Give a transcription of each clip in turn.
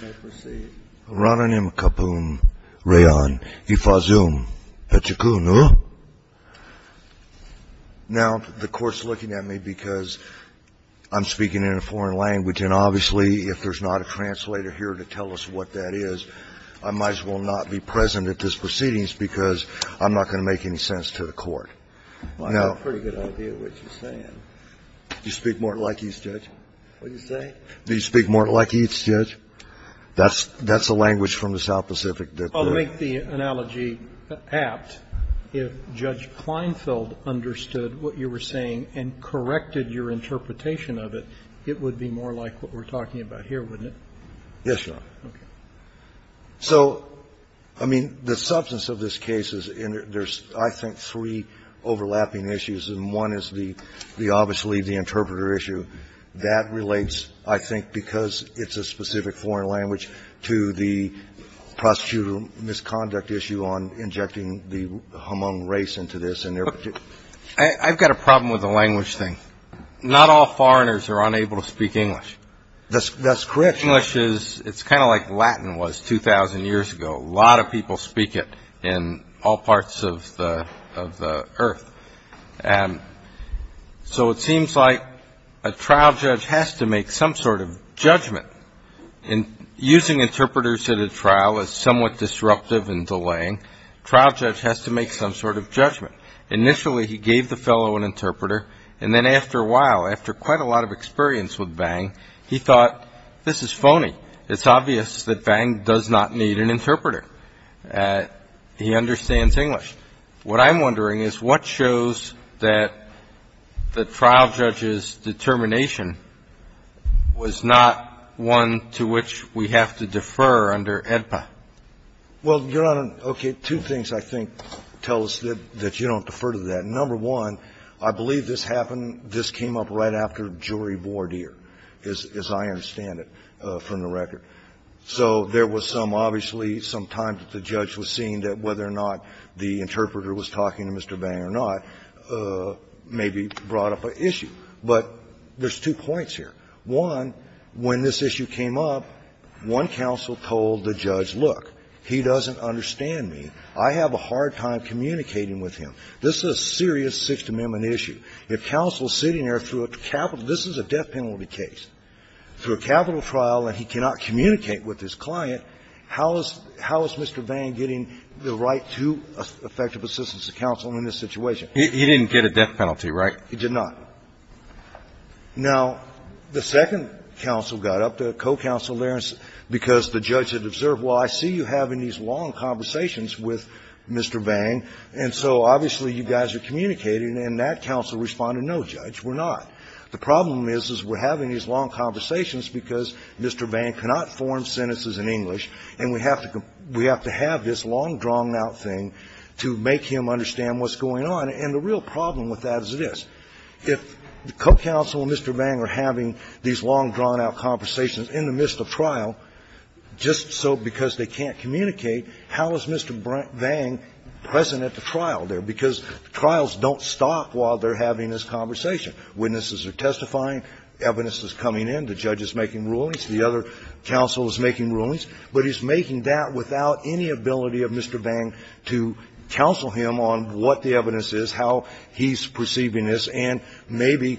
The court is looking at me because I'm speaking in a foreign language and obviously if there's not a translator here to tell us what that is, I might as well not be present at this proceedings because I'm not going to make any sense to the court. I have a pretty good idea of what you're saying. Do you speak more like Heath, Judge? What did you say? Do you speak more like Heath, Judge? That's a language from the South Pacific. Well, to make the analogy apt, if Judge Kleinfeld understood what you were saying and corrected your interpretation of it, it would be more like what we're talking about here, wouldn't it? Yes, Your Honor. Okay. So, I mean, the substance of this case is there's, I think, three overlapping issues and one is the obviously the interpreter issue. That relates, I think, because it's a specific foreign language, to the prostitute misconduct issue on injecting the Hmong race into this. I've got a problem with the language thing. Not all foreigners are unable to speak English. That's correct. It's kind of like Latin was 2,000 years ago. A lot of people speak it in all parts of the earth. So it seems like a trial judge has to make some sort of judgment. Using interpreters at a trial is somewhat disruptive and delaying. A trial judge has to make some sort of judgment. Initially, he gave the fellow an interpreter, and then after a while, after quite a lot of experience with Vang, he thought, this is phony. It's obvious that Vang does not need an interpreter. He understands English. What I'm wondering is what shows that the trial judge's determination was not one to which we have to defer under AEDPA. Well, Your Honor, okay, two things I think tell us that you don't defer to that. Number one, I believe this happened, this came up right after jury board here, as I understand it, from the record. So there was some, obviously, some time that the judge was seeing that whether or not the interpreter was talking to Mr. Vang or not maybe brought up an issue. But there's two points here. One, when this issue came up, one counsel told the judge, look, he doesn't understand me. I have a hard time communicating with him. This is a serious Sixth Amendment issue. If counsel is sitting there through a capital – this is a death penalty case. Through a capital trial and he cannot communicate with his client, how is Mr. Vang getting the right to effective assistance to counsel in this situation? He didn't get a death penalty, right? He did not. Now, the second counsel got up, the co-counsel there, because the judge had observed, well, I see you having these long conversations with Mr. Vang, and so obviously you guys are communicating, and that counsel responded, no, Judge, we're not. The problem is, is we're having these long conversations because Mr. Vang cannot form sentences in English, and we have to have this long, drawn-out thing to make him understand what's going on. And the real problem with that is this. If the co-counsel and Mr. Vang are having these long, drawn-out conversations in the midst of trial, just so because they can't communicate, how is Mr. Vang present at the trial there? Because trials don't stop while they're having this conversation. Witnesses are testifying, evidence is coming in, the judge is making rulings, the other counsel is making rulings, but he's making that without any ability of Mr. Vang to counsel him on what the evidence is, how he's perceiving this, and maybe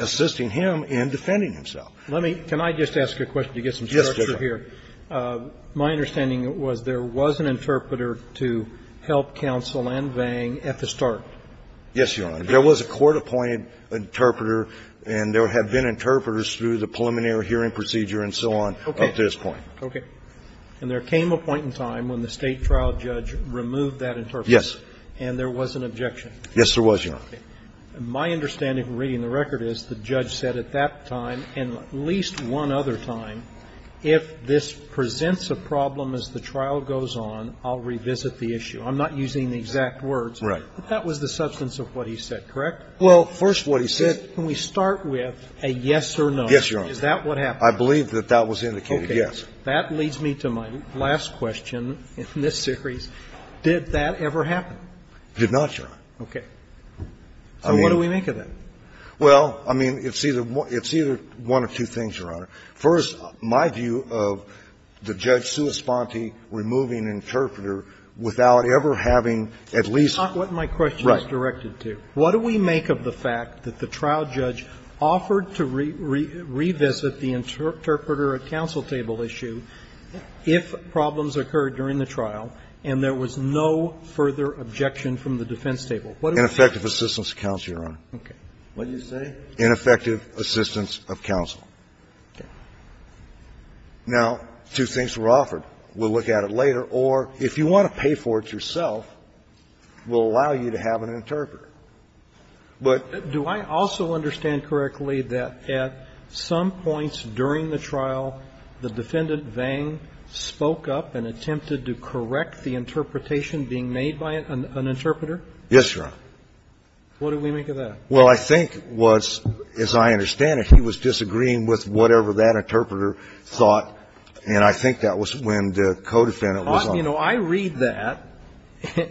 assisting him in defending himself. Let me – Can I just ask a question to get some structure here? Yes, Judge. My understanding was there was an interpreter to help counsel and Vang at the start. Yes, Your Honor. There was a court-appointed interpreter, and there have been interpreters through the preliminary hearing procedure and so on up to this point. Okay. And there came a point in time when the State trial judge removed that interpreter. Yes. And there was an objection. Yes, there was, Your Honor. My understanding from reading the record is the judge said at that time and at least one other time, if this presents a problem as the trial goes on, I'll revisit the issue. I'm not using the exact words. Right. But that was the substance of what he said, correct? Well, first what he said – Can we start with a yes or no? Yes, Your Honor. Is that what happened? I believe that that was indicated, yes. That leads me to my last question in this series. Did that ever happen? It did not, Your Honor. Okay. So what do we make of that? Well, I mean, it's either one or two things, Your Honor. First, my view of the judge's sua sponte removing an interpreter without ever having at least – That's not what my question is directed to. What do we make of the fact that the trial judge offered to revisit the interpreter after a counsel table issue if problems occurred during the trial and there was no further objection from the defense table? Ineffective assistance of counsel, Your Honor. Okay. What did you say? Ineffective assistance of counsel. Okay. Now, two things were offered. We'll look at it later. Or if you want to pay for it yourself, we'll allow you to have an interpreter. But – Do I also understand correctly that at some points during the trial, the defendant, Vang, spoke up and attempted to correct the interpretation being made by an interpreter? Yes, Your Honor. What do we make of that? Well, I think it was, as I understand it, he was disagreeing with whatever that interpreter thought, and I think that was when the co-defendant was on. Well, you know, I read that,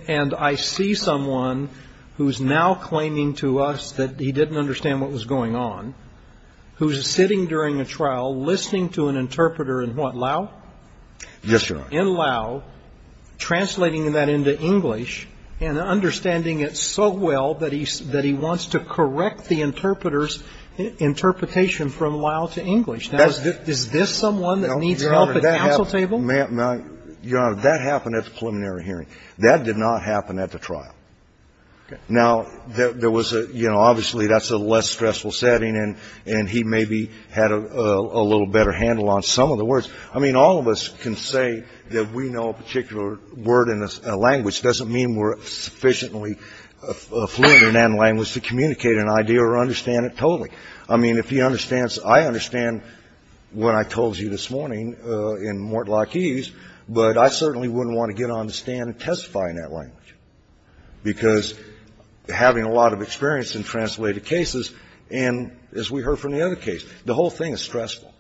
and I see someone who's now claiming to us that he didn't understand what was going on, who's sitting during a trial, listening to an interpreter in what, Lao? Yes, Your Honor. In Lao, translating that into English, and understanding it so well that he wants to correct the interpreter's interpretation from Lao to English. Now, is this someone that needs help at the counsel table? Well, Your Honor, that happened at the preliminary hearing. That did not happen at the trial. Now, there was a – you know, obviously, that's a less stressful setting, and he maybe had a little better handle on some of the words. I mean, all of us can say that we know a particular word in a language doesn't mean we're sufficiently fluent in that language to communicate an idea or understand it totally. I mean, if he understands – I understand what I told you this morning in Mortlock Eves, but I certainly wouldn't want to get on the stand and testify in that language, because having a lot of experience in translated cases, and as we heard from the other case, the whole thing is stressful.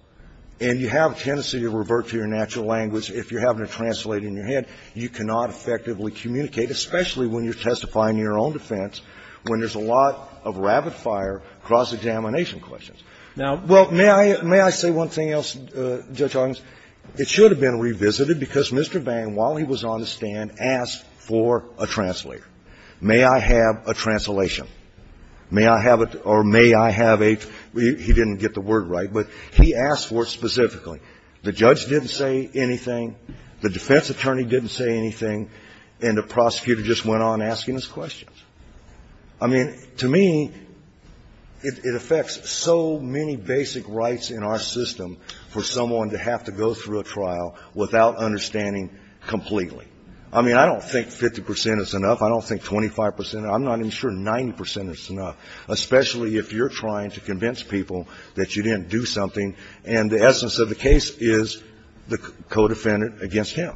And you have a tendency to revert to your natural language if you're having a translator in your hand. You cannot effectively communicate, especially when you're testifying in your own defense, when there's a lot of rapid-fire cross-examination questions. Now, well, may I – may I say one thing else, Judge August? It should have been revisited, because Mr. Vang, while he was on the stand, asked for a translator. May I have a translation? May I have a – or may I have a – he didn't get the word right, but he asked for it specifically. The judge didn't say anything, the defense attorney didn't say anything, and the prosecutor just went on asking his questions. I mean, to me, it affects so many basic rights in our system for someone to have to go through a trial without understanding completely. I mean, I don't think 50 percent is enough. I don't think 25 percent – I'm not even sure 90 percent is enough, especially if you're trying to convince people that you didn't do something, and the essence of the case is the co-defendant against him.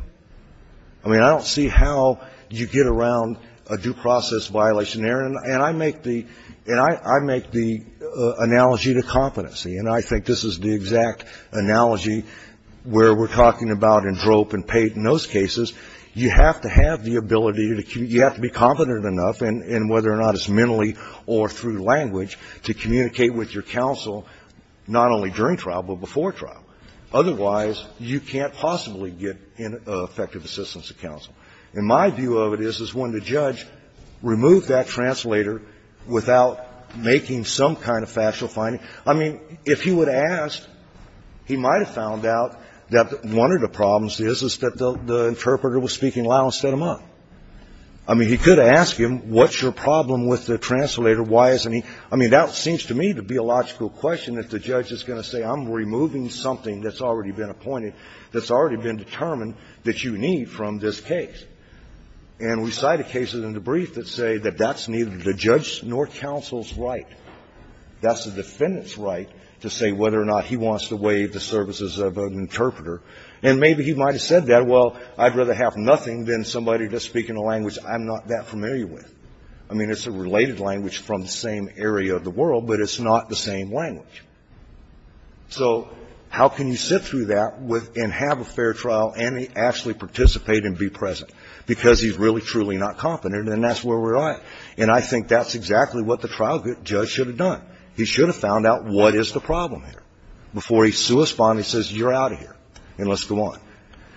I mean, I don't see how you get around a due process violation there, and I make the – and I make the analogy to competency, and I think this is the exact analogy where we're talking about in DROPE and PATE and those cases. You have to have the ability to – you have to be competent enough, and whether or not it's mentally or through language, to communicate with your counsel not only during trial, but before trial. Otherwise, you can't possibly get effective assistance of counsel. And my view of it is, is when the judge removed that translator without making some kind of factual finding, I mean, if he would have asked, he might have found out that one of the problems is, is that the interpreter was speaking loud instead of mutt. I mean, he could have asked him, what's your problem with the translator? Why isn't he – I mean, that seems to me to be a logical question, that the judge is going to say, I'm removing something that's already been appointed, that's already been determined that you need from this case. And we cited cases in the brief that say that that's neither the judge's nor counsel's right. That's the defendant's right to say whether or not he wants to waive the services of an interpreter. And maybe he might have said that. Well, I'd rather have nothing than somebody just speaking a language I'm not that familiar with. I mean, it's a related language from the same area of the world, but it's not the same language. So how can you sit through that and have a fair trial and actually participate and be present? Because he's really, truly not confident, and that's where we're at. And I think that's exactly what the trial judge should have done. He should have found out, what is the problem here? Before he's suesponed, he says, you're out of here, and let's go on.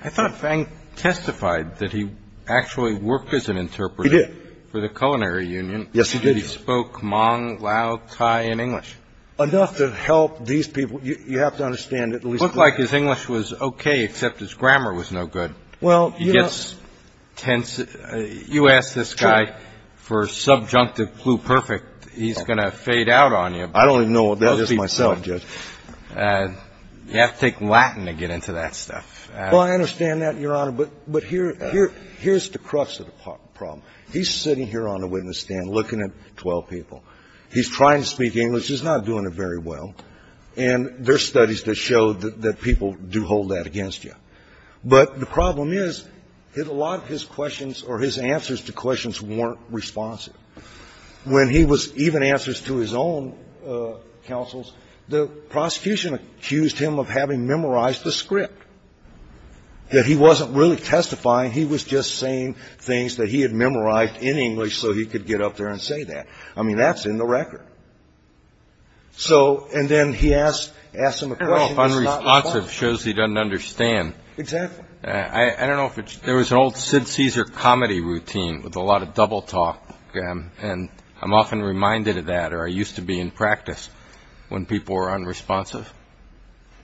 I thought Feng testified that he actually worked as an interpreter for the culinary union. Yes, he did. He spoke Hmong, Lao, Thai, and English. Enough to help these people. You have to understand that at least the lawyer was there. It looked like his English was okay, except his grammar was no good. Well, you know. He gets tense. You ask this guy for subjunctive pluperfect, he's going to fade out on you. I don't even know what that is myself, Judge. You have to take Latin to get into that stuff. Well, I understand that, Your Honor, but here's the crux of the problem. He's sitting here on the witness stand looking at 12 people. He's trying to speak English. He's not doing it very well, and there's studies that show that people do hold that against you. But the problem is that a lot of his questions or his answers to questions weren't responsive. When he was even answering to his own counsels, the prosecution accused him of having memorized the script, that he wasn't really testifying. He was just saying things that he had memorized in English so he could get up there and say that. I mean, that's in the record. So and then he asked him a question that's not responsive. Unresponsive shows he doesn't understand. Exactly. I don't know if it's there was an old Sid Caesar comedy routine with a lot of double talk, and I'm often reminded of that, or I used to be in practice when people were unresponsive.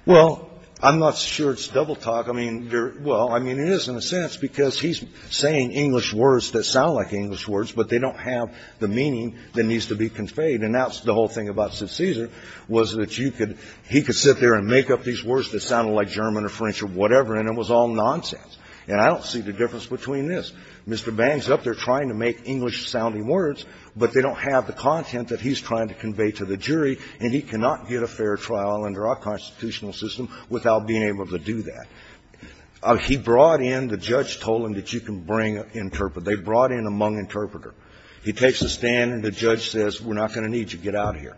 Well, I'm not sure it's double talk. I mean, well, I mean, it is in a sense because he's saying English words that sound like English words, but they don't have the meaning that needs to be conveyed. And that's the whole thing about Sid Caesar, was that you could he could sit there and make up these words that sounded like German or French or whatever, and it was all nonsense, and I don't see the difference between this. Mr. Bang's up there trying to make English-sounding words, but they don't have the content that he's trying to convey to the jury, and he cannot get a fair trial under our constitutional system without being able to do that. He brought in, the judge told him that you can bring an interpreter. They brought in a Hmong interpreter. He takes a stand, and the judge says, we're not going to need you. Get out of here.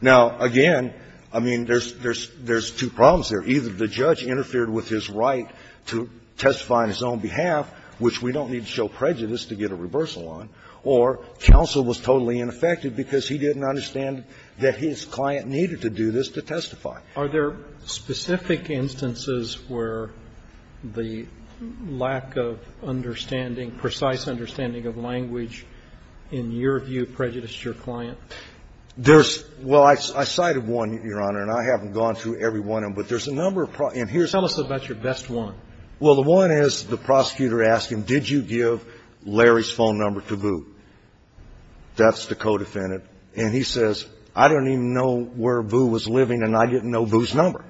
Now, again, I mean, there's two problems there. Either the judge interfered with his right to testify on his own behalf, which we don't need to show prejudice to get a reversal on, or counsel was totally ineffective because he didn't understand that his client needed to do this to testify. Are there specific instances where the lack of understanding, precise understanding of language, in your view, prejudiced your client? There's – well, I cited one, Your Honor, and I haven't gone through every one of them, but there's a number of – and here's the problem. Tell us about your best one. Well, the one is the prosecutor asked him, did you give Larry's phone number to Boo? That's the co-defendant. And he says, I don't even know where Boo was living, and I didn't know Boo's number.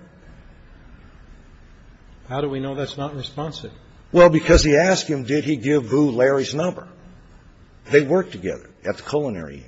How do we know that's not responsive? Well, because he asked him, did he give Boo Larry's number? They worked together at the culinary.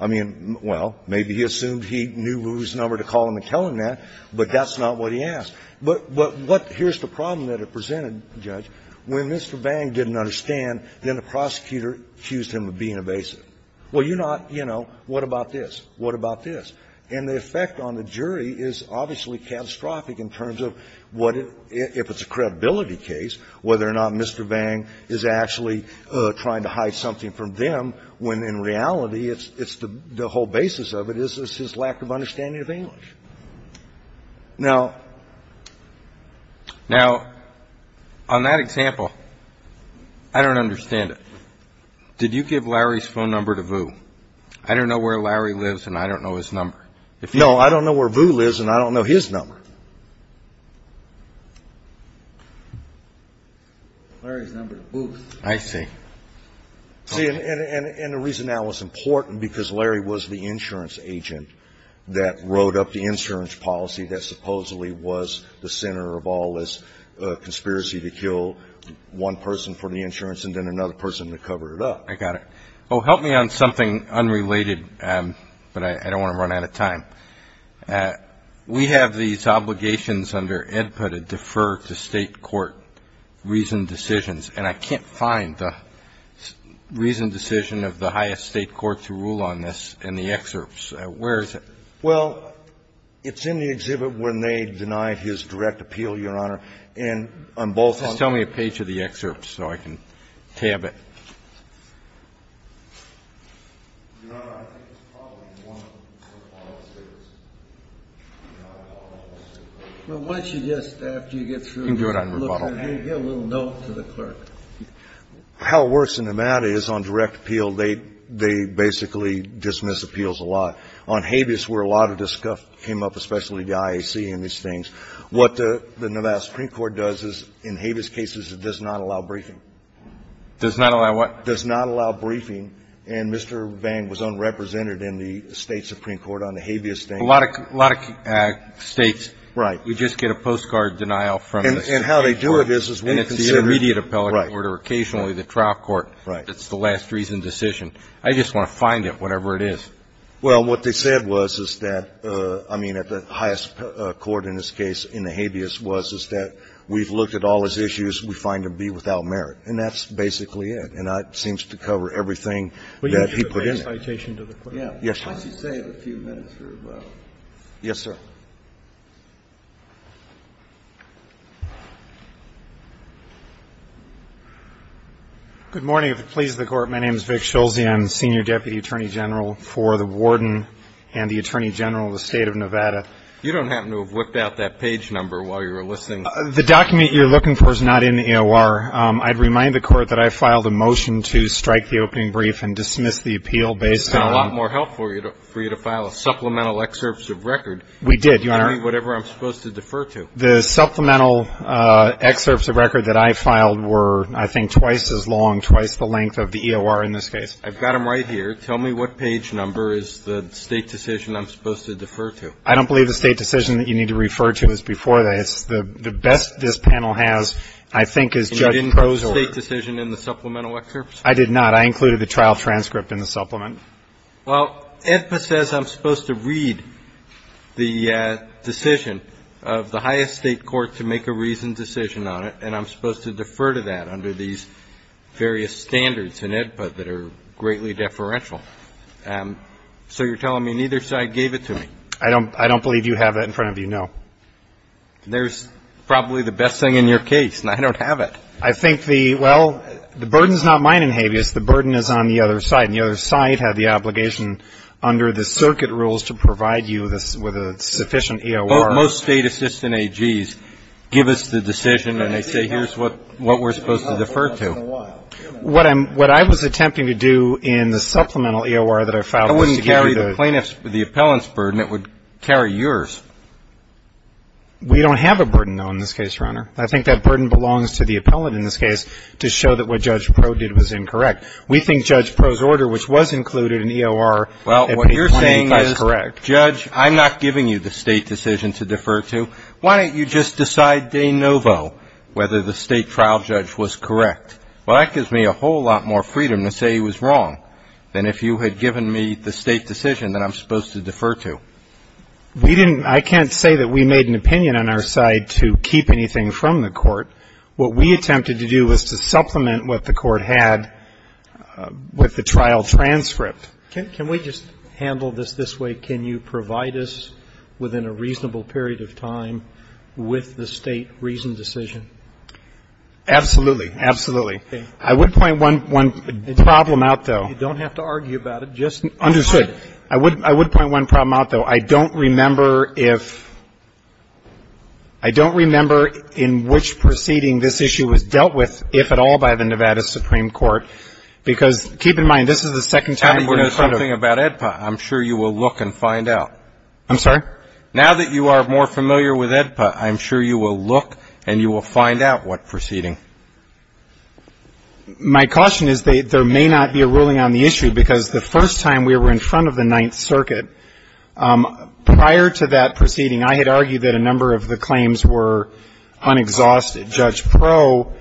I mean, well, maybe he assumed he knew Boo's number to call him and tell him that, but that's not what he asked. But what – here's the problem that it presented, Judge. When Mr. Bang didn't understand, then the prosecutor accused him of being evasive. Well, you're not, you know, what about this? What about this? And the effect on the jury is obviously catastrophic in terms of what it – if it's a credibility case, whether or not Mr. Bang is actually trying to hide something from them, when in reality it's the whole basis of it is his lack of understanding of English. Now, on that example, I don't understand it. Did you give Larry's phone number to Boo? I don't know where Larry lives, and I don't know his number. No, I don't know where Boo lives, and I don't know his number. Larry's number to Boo's. I see. See, and the reason that was important, because Larry was the insurance agent that wrote up the insurance policy that supposedly was the center of all this conspiracy to kill one person for the insurance and then another person to cover it up. I got it. Oh, help me on something unrelated, but I don't want to run out of time. We have these obligations under AEDPA to defer to State court reasoned decisions. And I can't find the reasoned decision of the highest State court to rule on this in the excerpts. Where is it? Well, it's in the exhibit when they denied his direct appeal, Your Honor. And on both of them. Just tell me a page of the excerpt so I can tab it. Your Honor, I think it's probably one of the most important statements. Once you get through, look at it and get a little note to the clerk. How worse than that is on direct appeal, they basically dismiss appeals a lot. On habeas, where a lot of this stuff came up, especially the IAC and these things, what the Nevada Supreme Court does is in habeas cases, it does not allow briefing. Does not allow what? Does not allow briefing. And Mr. Vang was unrepresented in the State Supreme Court on the habeas thing. A lot of States, we just get a postcard denial from the Supreme Court. And how they do it is, is when you consider the immediate appellate court or occasionally the trial court, that's the last reasoned decision. I just want to find it, whatever it is. Well, what they said was, is that, I mean, at the highest court in this case in the habeas was, is that we've looked at all his issues, we find him to be without merit. And that's basically it. And that seems to cover everything that he put in it. Yes, sir. Yes, sir. Good morning. If it pleases the Court, my name is Vic Schulze. I'm the Senior Deputy Attorney General for the Warden and the Attorney General of the State of Nevada. You don't happen to have whipped out that page number while you were listening. The document you're looking for is not in the EOR. I'd remind the Court that I filed a motion to strike the opening brief and dismiss the appeal based on the opening brief. It would have been a lot more helpful for you to file a supplemental excerpt of record. We did, Your Honor. I mean, whatever I'm supposed to defer to. The supplemental excerpts of record that I filed were, I think, twice as long, twice the length of the EOR in this case. I've got them right here. Tell me what page number is the State decision I'm supposed to defer to. I don't believe the State decision that you need to refer to is before that. It's the best this panel has, I think, is Judge Prozor. And you didn't put the State decision in the supplemental excerpts? I did not. I included the trial transcript in the supplement. Well, AEDPA says I'm supposed to read the decision of the highest State court to make a reasoned decision on it, and I'm supposed to defer to that under these various standards in AEDPA that are greatly deferential. So you're telling me neither side gave it to me? I don't believe you have that in front of you, no. There's probably the best thing in your case, and I don't have it. I think the – well, the burden is not mine in habeas. The burden is on the other side, and the other side had the obligation under the circuit rules to provide you with a sufficient EOR. But most State assistant AGs give us the decision and they say here's what we're supposed to defer to. Well, it's been a while. What I'm – what I was attempting to do in the supplemental EOR that I filed was to give you the – That wouldn't carry the plaintiff's – the appellant's burden. It would carry yours. We don't have a burden, though, in this case, Your Honor. I think that burden belongs to the appellant in this case to show that what Judge Pro did was incorrect. We think Judge Prozor's order, which was included in EOR, at page 25 is correct. Well, what you're saying is, Judge, I'm not giving you the State decision to defer to. Why don't you just decide de novo whether the State trial judge was correct? Well, that gives me a whole lot more freedom to say he was wrong than if you had given me the State decision that I'm supposed to defer to. We didn't – I can't say that we made an opinion on our side to keep anything from the Court. What we attempted to do was to supplement what the Court had with the trial transcript. Can we just handle this this way? Can you provide us within a reasonable period of time with the State reasoned decision? Absolutely. Absolutely. I would point one – one problem out, though. You don't have to argue about it. Just – Understood. I would – I would point one problem out, though. I don't remember if – I don't remember in which proceeding this issue was dealt with, if at all, by the Nevada Supreme Court, because – keep in mind, this is the second time we're in front of – And we're doing something about AEDPA. I'm sure you will look and find out. I'm sorry? Now that you are more familiar with AEDPA, I'm sure you will look and you will find out what proceeding. My caution is there may not be a ruling on the issue, because the first time we were in front of the Ninth Circuit, prior to that proceeding, I had argued that a number of the claims were unexhausted. Judge Proe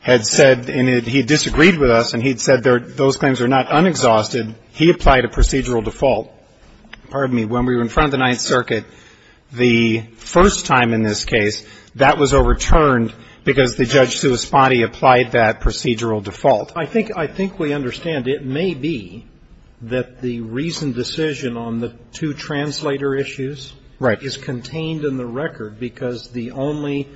had said – and he disagreed with us, and he had said those claims are not unexhausted. He applied a procedural default. Pardon me. When we were in front of the Ninth Circuit, the first time in this case, that was overturned because the Judge Suospati applied that procedural default. I think – I think we understand. It may be that the reasoned decision on the two translator issues is contained in the record, because the only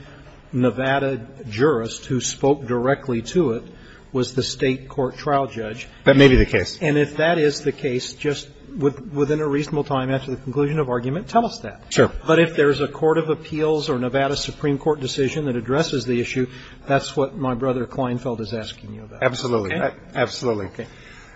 Nevada jurist who spoke directly to it was the State Court trial judge. That may be the case. And if that is the case, just within a reasonable time after the conclusion of argument, tell us that. Sure. But if there's a court of appeals or Nevada Supreme Court decision that addresses the issue, that's what my brother Kleinfeld is asking you about. Absolutely. Absolutely. Okay.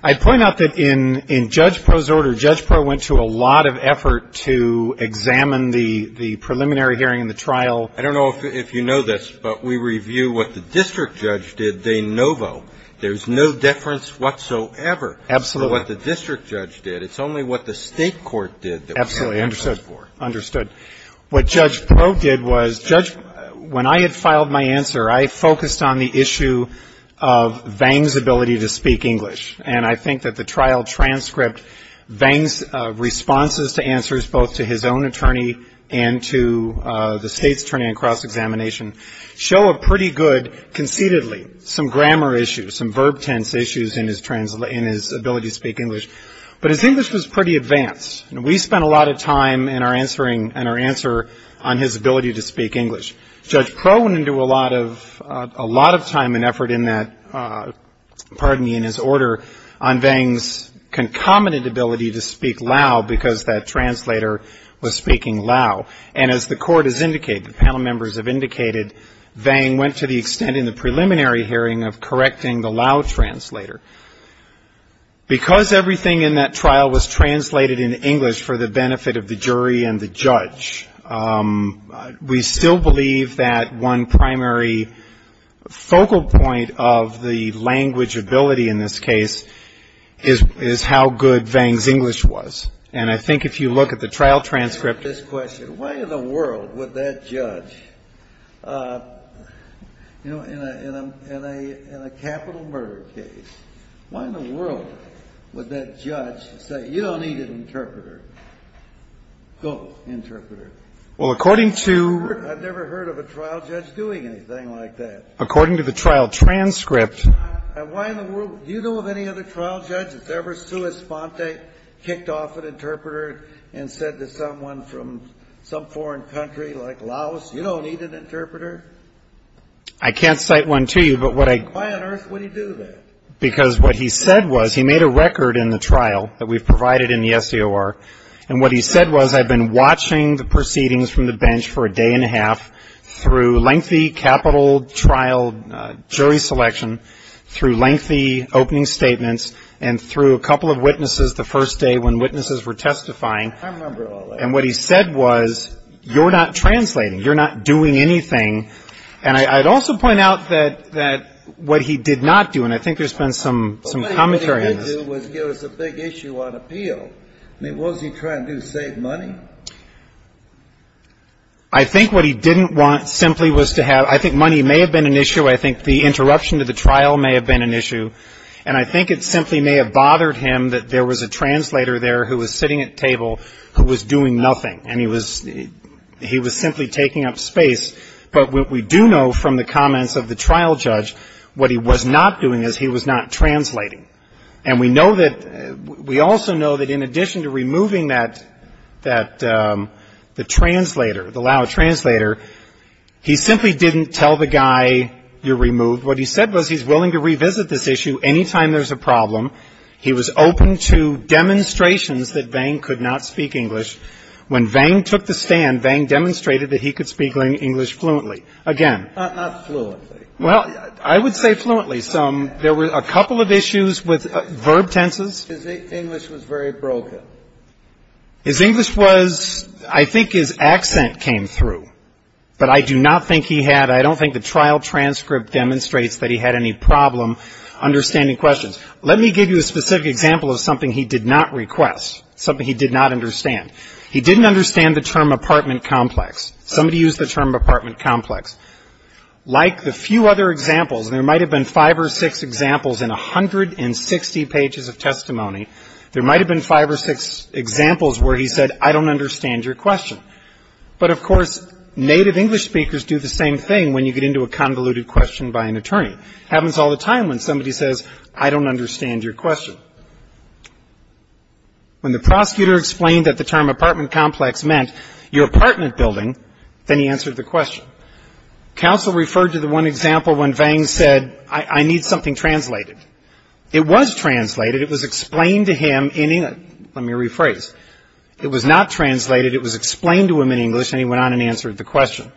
I point out that in Judge Proe's order, Judge Proe went to a lot of effort to examine the preliminary hearing and the trial. I don't know if you know this, but we review what the district judge did, de novo. There's no deference whatsoever. Absolutely. For what the district judge did. It's only what the State Court did that we have to look for. Absolutely. Understood. What Judge Proe did was – Judge – when I had filed my answer, I focused on the issue of Vang's ability to speak English. And I think that the trial transcript, Vang's responses to answers both to his own attorney and to the State's attorney on cross-examination show a pretty good, conceitedly, some grammar issues, some verb tense issues in his ability to speak English. But his English was pretty advanced. We spent a lot of time in our answering – in our answer on his ability to speak English. Judge Proe went into a lot of time and effort in that – pardon me, in his order on Vang's concomitant ability to speak Lao because that translator was speaking Lao. And as the court has indicated, the panel members have indicated, Vang went to the preliminary hearing of correcting the Lao translator. Because everything in that trial was translated in English for the benefit of the jury and the judge, we still believe that one primary focal point of the language ability in this case is how good Vang's English was. And I think if you look at the trial transcript – In a capital murder case, why in the world would that judge say, you don't need an interpreter? Go, interpreter. Well, according to – I've never heard of a trial judge doing anything like that. According to the trial transcript – And why in the world – do you know of any other trial judge that's ever sua sponte, kicked off an interpreter, and said to someone from some foreign country like Laos, you don't need an interpreter? I can't cite one to you, but what I – Why on earth would he do that? Because what he said was, he made a record in the trial that we've provided in the SCOR, and what he said was, I've been watching the proceedings from the bench for a day and a half through lengthy capital trial jury selection, through lengthy opening statements, and through a couple of witnesses the first day when witnesses were testifying – I remember all that. And what he said was, you're not translating, you're not doing anything, and I'd also point out that what he did not do, and I think there's been some commentary on this – But what he did do was give us a big issue on appeal. I mean, what was he trying to do, save money? I think what he didn't want simply was to have – I think money may have been an issue, I think the interruption to the trial may have been an issue, and I think it simply may have bothered him that there was a translator there who was sitting at the table who was doing nothing, and he was – he was simply taking up space. But what we do know from the comments of the trial judge, what he was not doing is he was not translating. And we know that – we also know that in addition to removing that – the translator, the loud translator, he simply didn't tell the guy, you're removed. What he said was, he's willing to revisit this issue any time there's a problem. He was open to demonstrations that Vang could not speak English. When Vang took the stand, Vang demonstrated that he could speak English fluently. Again – Not fluently. Well, I would say fluently. Some – there were a couple of issues with verb tenses. His English was very broken. His English was – I think his accent came through, but I do not think he had – I don't think the trial transcript demonstrates that he had any problem understanding questions. Let me give you a specific example of something he did not request, something he did not understand. He didn't understand the term apartment complex. Somebody used the term apartment complex. Like the few other examples, and there might have been five or six examples in 160 pages of testimony, there might have been five or six examples where he said, I don't understand your question. But of course, native English speakers do the same thing when you get into a convoluted question by an attorney. Happens all the time when somebody says, I don't understand your question. When the prosecutor explained that the term apartment complex meant your apartment building, then he answered the question. Counsel referred to the one example when Vang said, I need something translated. It was translated. It was explained to him in – let me rephrase. It was not translated. It was explained to him in English, and he went on and answered the question.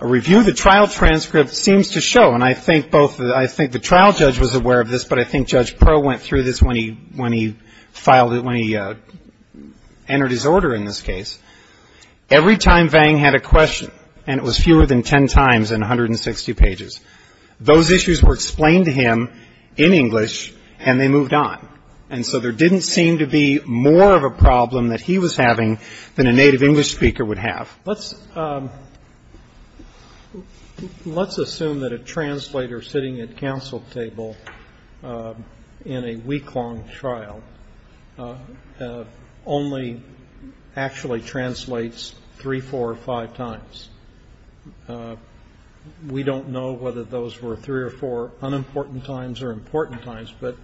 A review of the trial transcript seems to show, and I think both – I think the trial judge was aware of this, but I think Judge Proh went through this when he filed – when he entered his order in this case. Every time Vang had a question, and it was fewer than 10 times in 160 pages, those issues were explained to him in English, and they moved on. And so there didn't seem to be more of a problem that he was having than a native English speaker would have. Let's assume that a translator sitting at counsel table in a week-long trial only actually translates three, four, or five times. We don't know whether those were three or four unimportant times or important times, but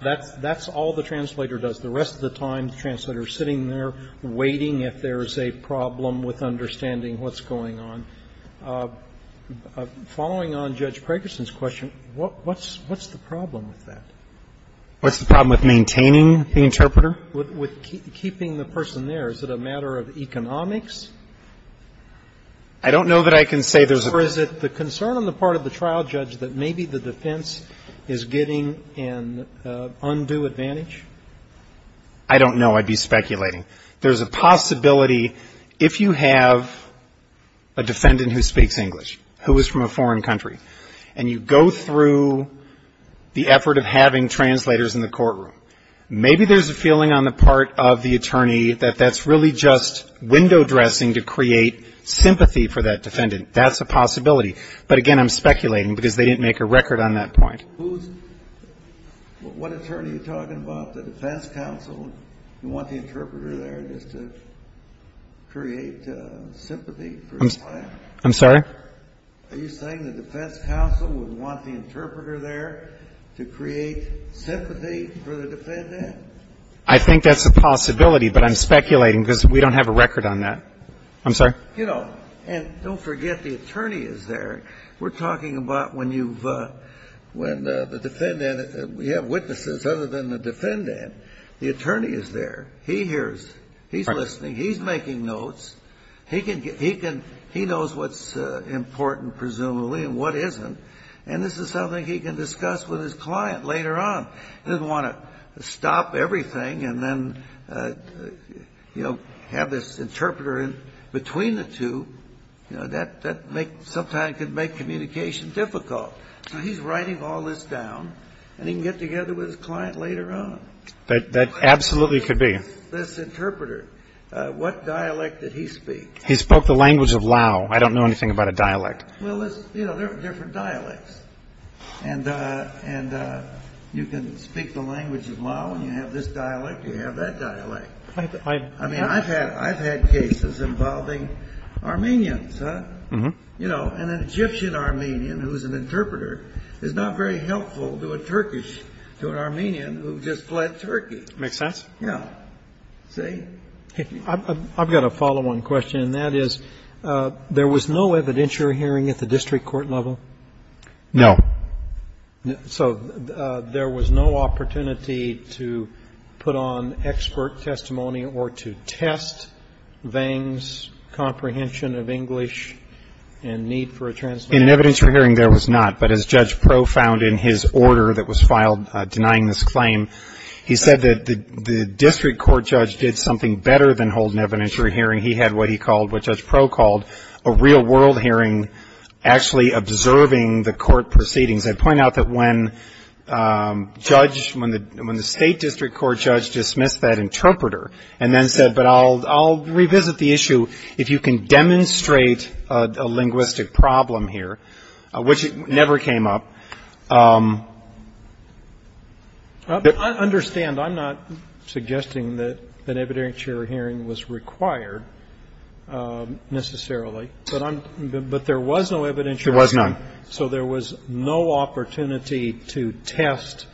that's all the translator does. The rest of the time, the translator is sitting there waiting if there is a problem with understanding what's going on. Following on Judge Prakerson's question, what's the problem with that? What's the problem with maintaining the interpreter? With keeping the person there. Is it a matter of economics? I don't know that I can say there's a – Or is it the concern on the part of the trial judge that maybe the defense is getting an undue advantage? I don't know. I'd be speculating. There's a possibility if you have a defendant who speaks English, who is from a foreign country, and you go through the effort of having translators in the courtroom, maybe there's a feeling on the part of the attorney that that's really just window dressing to create sympathy for that defendant. That's a possibility. But again, I'm speculating because they didn't make a record on that point. What attorney are you talking about? The defense counsel? You want the interpreter there just to create sympathy for his client? I'm sorry? Are you saying the defense counsel would want the interpreter there to create sympathy for the defendant? I think that's a possibility, but I'm speculating because we don't have a record on that. I'm sorry? You know, and don't forget the attorney is there. We're talking about when you have witnesses other than the defendant. The attorney is there. He hears. He's listening. He's making notes. He knows what's important, presumably, and what isn't. And this is something he can discuss with his client later on. He doesn't want to stop everything and then have this interpreter in between the two. You know, that sometimes can make communication difficult. So he's writing all this down, and he can get together with his client later on. That absolutely could be. This interpreter, what dialect did he speak? He spoke the language of Lao. I don't know anything about a dialect. Well, you know, there are different dialects. And you can speak the language of Lao, and you have this dialect, you have that dialect. I mean, I've had cases involving Armenians. You know, an Egyptian Armenian who's an interpreter is not very helpful to a Turkish, to an Armenian who just fled Turkey. Makes sense. Yeah. See? I've got a follow-on question, and that is, there was no evidentiary hearing at the district court level? No. So there was no opportunity to put on expert testimony or to test Vang's comprehension of English and need for a translator? In an evidentiary hearing, there was not. But as Judge Pro found in his order that was filed denying this claim, he said that the district court judge did something better than hold an evidentiary hearing. He had what he called, what Judge Pro called, a real-world hearing actually observing the court proceedings. I'd point out that when Judge, when the state district court judge dismissed that interpreter and then said, but I'll revisit the issue if you can demonstrate a linguistic problem here, which never came up. I understand. I'm not suggesting that an evidentiary hearing was required necessarily. But there was no evidentiary hearing. There was none. So there was no opportunity to test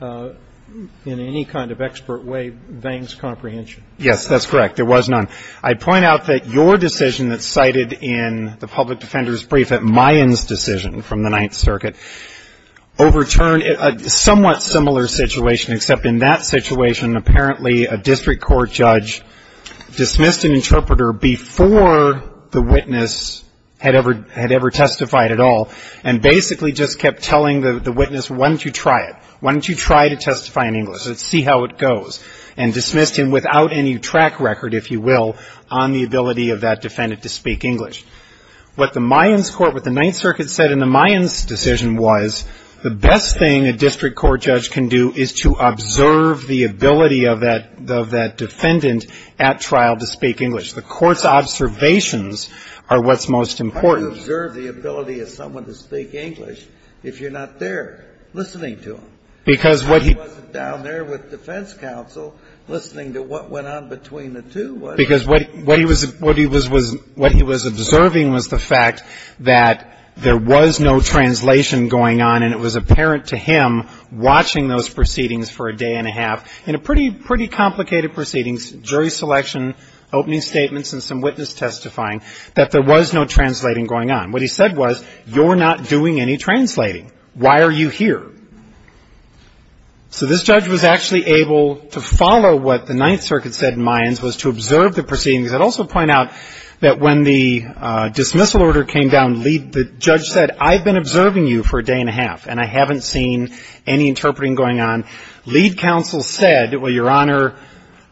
in any kind of expert way Vang's comprehension. Yes, that's correct. There was none. I'd point out that your decision that's cited in the public defender's brief at Mayan's decision from the Ninth Circuit overturned a somewhat similar situation, except in that situation, apparently, a district court judge dismissed an interpreter before the witness had ever testified at all and basically just kept telling the witness, why don't you try it? Why don't you try to testify in English? Let's see how it goes. And dismissed him without any track record, if you will, on the ability of that defendant to speak English. What the Mayan's court, what the Ninth Circuit said in the Mayan's decision was, the best thing a district court judge can do is to observe the ability of that defendant at trial to speak English. The court's observations are what's most important. How do you observe the ability of someone to speak English if you're not there listening to them? I wasn't down there with defense counsel listening to what went on between the two. Because what he was observing was the fact that there was no translation going on, and it was apparent to him watching those proceedings for a day and a half, in a pretty complicated proceedings, jury selection, opening statements, and some witness testifying, that there was no translating going on. What he said was, you're not doing any translating. Why are you here? So this judge was actually able to follow what the Ninth Circuit said in Mayan's, was to observe the proceedings. I'd also point out that when the dismissal order came down, the judge said, I've been observing you for a day and a half, and I haven't seen any interpreting going on. Lead counsel said, well, Your Honor,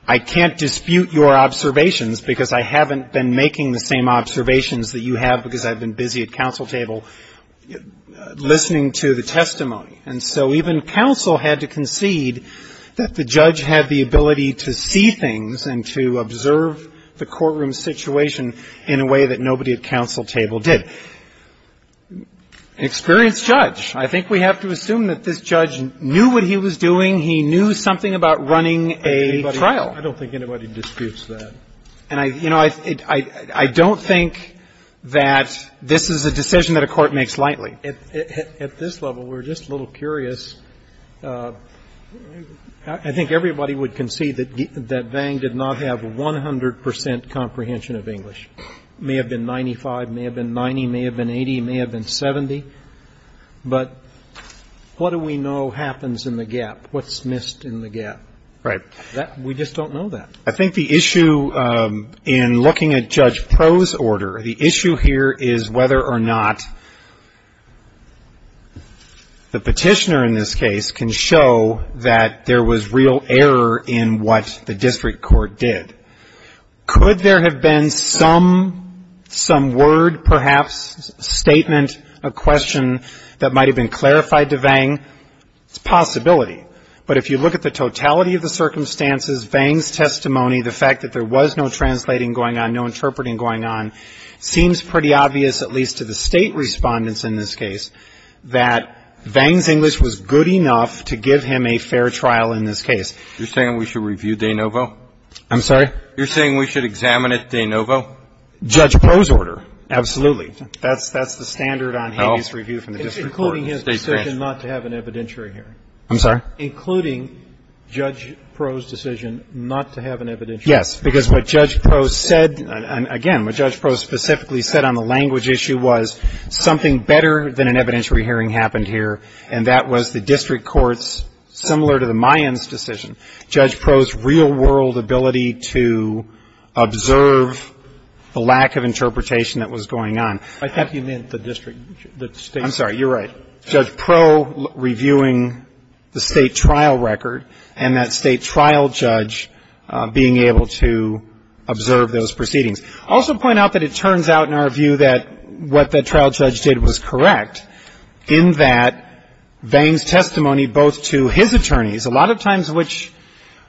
I can't dispute your observations, because I haven't been making the same observations that you have, because I've been busy at counsel table listening to the testimony. And so even counsel had to concede that the judge had the ability to see things and to observe the courtroom situation in a way that nobody at counsel table did. An experienced judge. I think we have to assume that this judge knew what he was doing. He knew something about running a trial. I don't think anybody disputes that. And, you know, I don't think that this is a decision that a court makes lightly. At this level, we're just a little curious. I think everybody would concede that Vang did not have 100 percent comprehension of English. May have been 95, may have been 90, may have been 80, may have been 70. But what do we know happens in the gap? What's missed in the gap? Right. We just don't know that. I think the issue in looking at Judge Proh's order, the issue here is whether or not the petitioner in this case can show that there was real error in what the district court did. Could there have been some word, perhaps, statement, a question that might have been clarified to Vang? It's a possibility. But if you look at the totality of the circumstances, Vang's testimony, the fact that there was no translating going on, no interpreting going on, seems pretty obvious, at least to the State respondents in this case, that Vang's English was good enough to give him a fair trial in this case. You're saying we should review De Novo? I'm sorry? You're saying we should examine at De Novo? Judge Proh's order. Absolutely. That's the standard on habeas review from the district court. Including his decision not to have an evidentiary hearing. I'm sorry? Including Judge Proh's decision not to have an evidentiary hearing. Yes. Because what Judge Proh said, again, what Judge Proh specifically said on the language issue was something better than an evidentiary hearing happened here, and that was the district court's, similar to the Mayans' decision, Judge Proh's real-world ability to observe the lack of interpretation that was going on. I think you meant the district, the State's. I'm sorry, you're right. Judge Proh reviewing the State trial record, and that State trial judge being able to observe those proceedings. I'll also point out that it turns out in our view that what that trial judge did was correct, in that Vang's testimony both to his attorneys, a lot of times which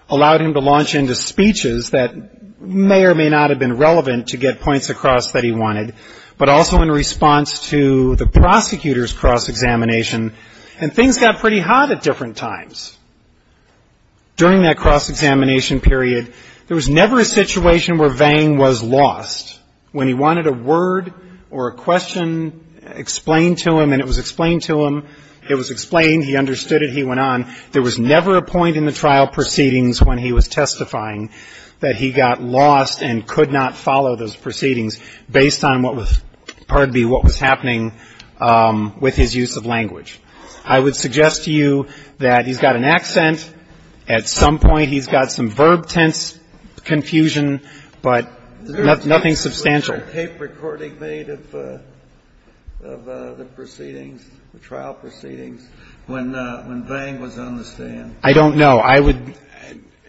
allowed him to launch into speeches that may or may not have been relevant to get cross-examination, and things got pretty hot at different times. During that cross-examination period, there was never a situation where Vang was lost. When he wanted a word or a question explained to him, and it was explained to him, it was explained, he understood it, he went on. There was never a point in the trial proceedings when he was testifying that he got lost and could not follow those proceedings based on what was, pardon me, what was happening with his use of language. I would suggest to you that he's got an accent. At some point, he's got some verb tense confusion, but nothing substantial. Was there a tape recording made of the proceedings, the trial proceedings, when Vang was on the stand? I don't know. I would,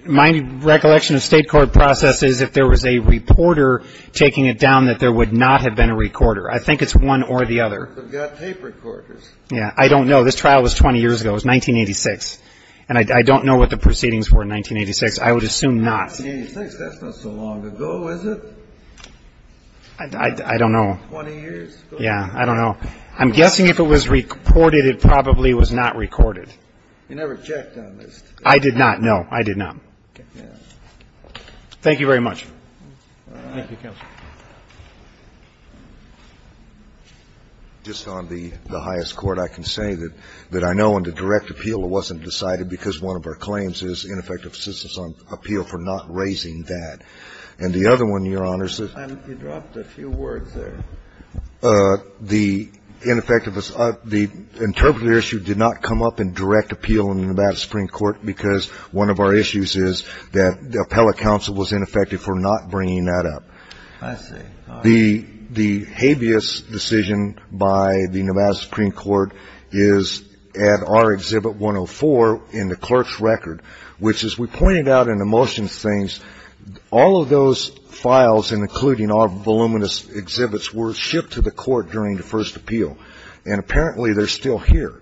my recollection of State court process is if there was a reporter taking it down, that there would not have been a recorder. I think it's one or the other. They've got tape recorders. Yeah. I don't know. This trial was 20 years ago. It was 1986. And I don't know what the proceedings were in 1986. I would assume not. 1986? That's not so long ago, is it? I don't know. 20 years? Yeah. I don't know. I'm guessing if it was reported, it probably was not recorded. You never checked on this? I did not, no. I did not. Okay. Thank you very much. All right. Thank you, counsel. Just on the highest court, I can say that I know in the direct appeal it wasn't decided because one of our claims is ineffective assistance on appeal for not raising that. And the other one, Your Honor, is that the ineffective issue did not come up in direct appeal in the Nevada Supreme Court because one of our issues is that the appellate counsel was ineffective for not bringing that up. I see. All right. The habeas decision by the Nevada Supreme Court is at our Exhibit 104 in the clerk's record, which, as we pointed out in the motions things, all of those files, including our voluminous exhibits, were shipped to the court during the first appeal. And apparently they're still here.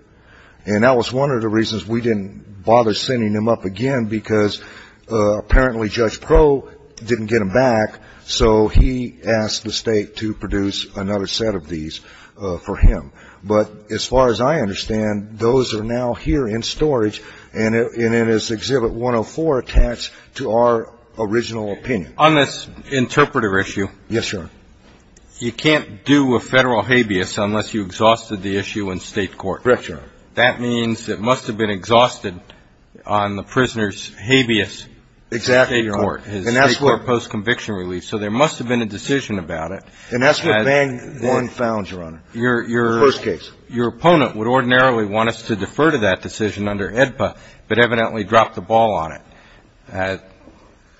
And that was one of the reasons we didn't bother sending them up again, because apparently Judge Crowe didn't get them back, so he asked the State to produce another set of these for him. But as far as I understand, those are now here in storage and in this Exhibit 104 attached to our original opinion. On this interpreter issue. Yes, Your Honor. You can't do a Federal habeas unless you exhausted the issue in State court. Correct, Your Honor. That means it must have been exhausted on the prisoner's habeas in State court. Exactly, Your Honor. His State court post-conviction relief. So there must have been a decision about it. And that's what Van Goren found, Your Honor, the first case. Your opponent would ordinarily want us to defer to that decision under AEDPA, but evidently dropped the ball on it.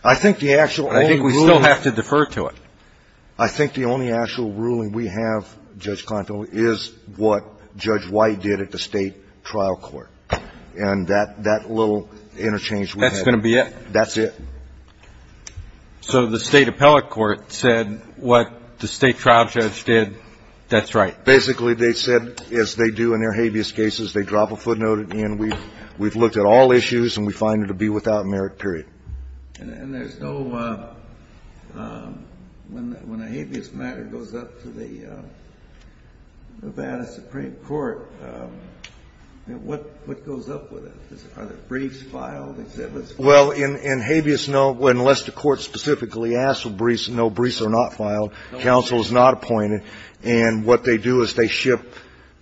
I think the actual only ruling. I think we still have to defer to it. I think the only actual ruling we have, Judge Conto, is what Judge White did at the State trial court. And that little interchange we had. That's going to be it. That's it. So the State appellate court said what the State trial judge did, that's right. Basically, they said, as they do in their habeas cases, they drop a footnote at the end. We've looked at all issues and we find it to be without merit, period. And there's no, when a habeas matter goes up to the Nevada Supreme Court, what goes up with it? Are there briefs filed, exhibits filed? Well, in habeas, no, unless the court specifically asks for briefs, no, briefs are not filed. Counsel is not appointed. And what they do is they ship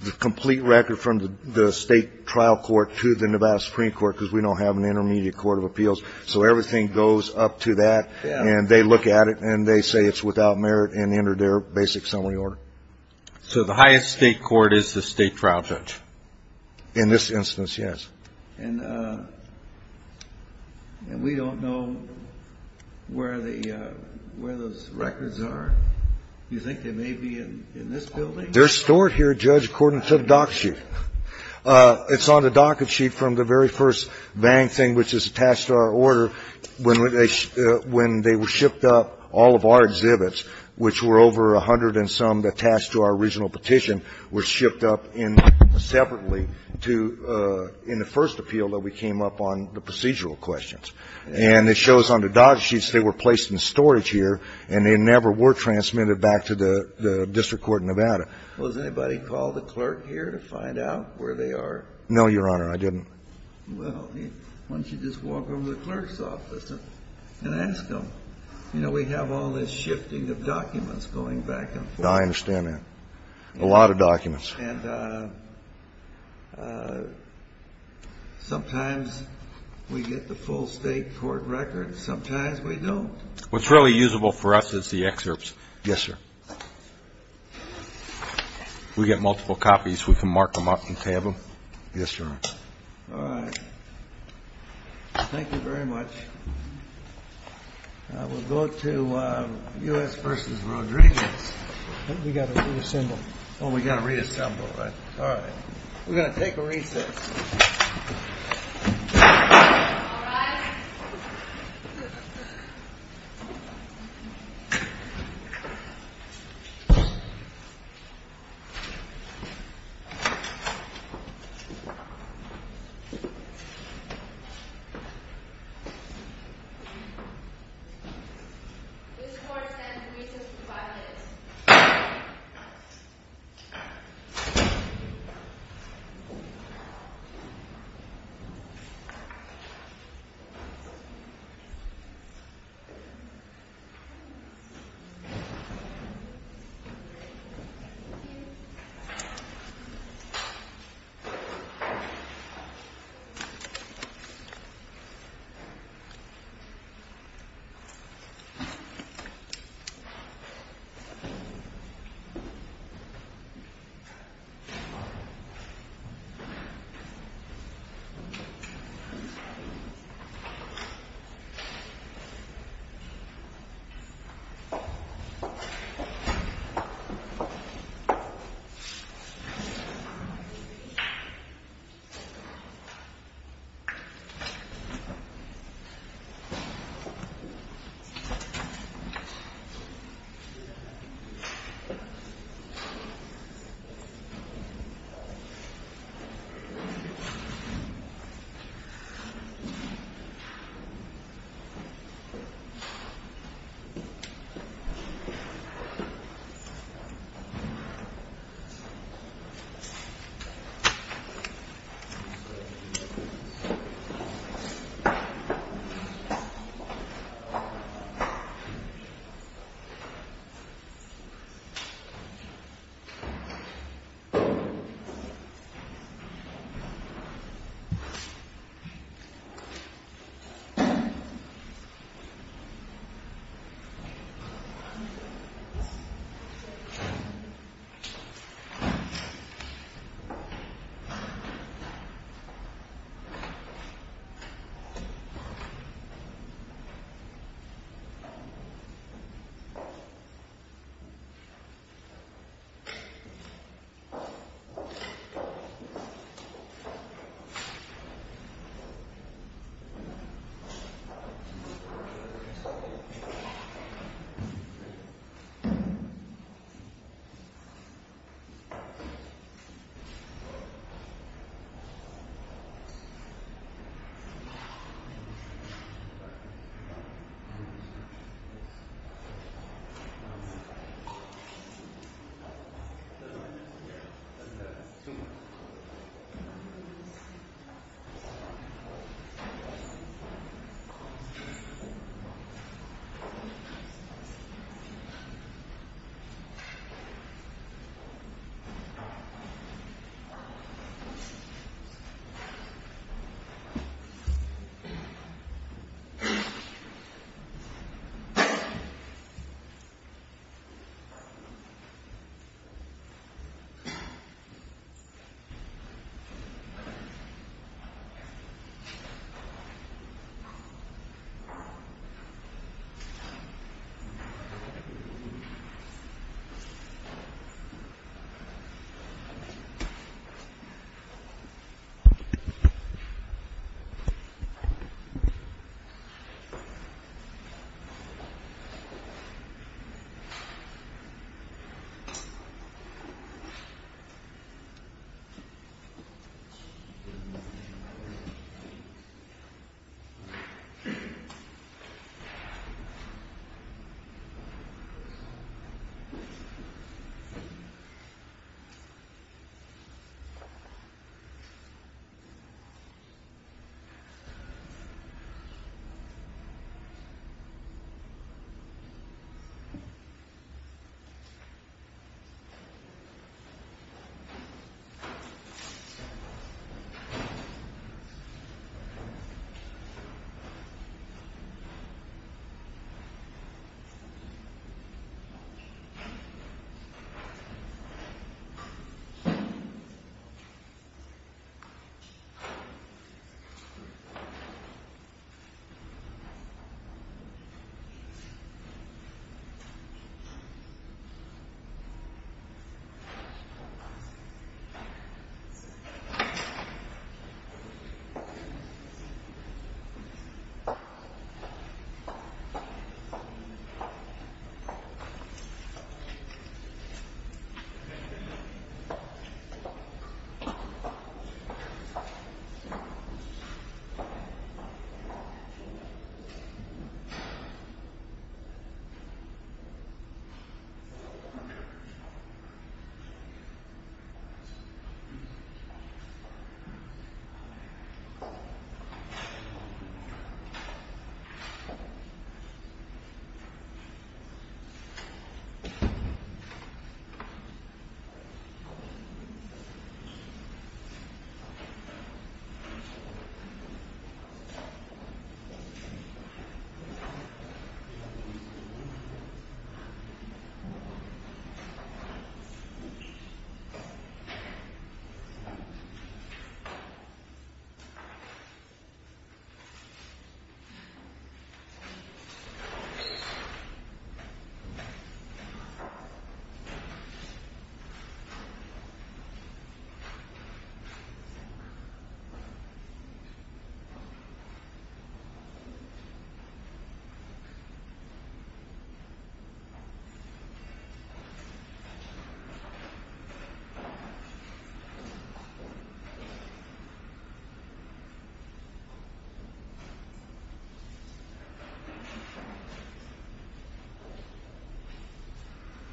the complete record from the State trial court to the Nevada Supreme Court because we don't have an intermediate court of appeals. So everything goes up to that and they look at it and they say it's without merit and enter their basic summary order. So the highest State court is the State trial judge? In this instance, yes. And we don't know where those records are. Do you think they may be in this building? They're stored here, Judge, according to the docket sheet. It's on the docket sheet from the very first Vang thing which is attached to our order when they were shipped up, all of our exhibits, which were over a hundred and some attached to our original petition, were shipped up separately to, in the first appeal that we came up on the procedural questions. And it shows on the docket sheets they were placed in storage here and they never were transmitted back to the district court in Nevada. Was anybody called the clerk here to find out where they are? No, Your Honor, I didn't. Well, why don't you just walk over to the clerk's office and ask them? You know, we have all this shifting of documents going back and forth. I understand that. A lot of documents. And sometimes we get the full State court records. Sometimes we don't. What's really usable for us is the excerpts. Yes, sir. We get multiple copies. We can mark them up and tab them. Yes, Your Honor. All right. Thank you very much. We'll go to U.S. v. Rodriguez. We've got to reassemble. Oh, we've got to reassemble. All right. We're going to take a recess. All right. This court stands recessed for five minutes. Five minutes. Five minutes. Five minutes. Five minutes. Five minutes. Five minutes. Two minutes. Two minutes. Two minutes. Two minutes. Two minutes.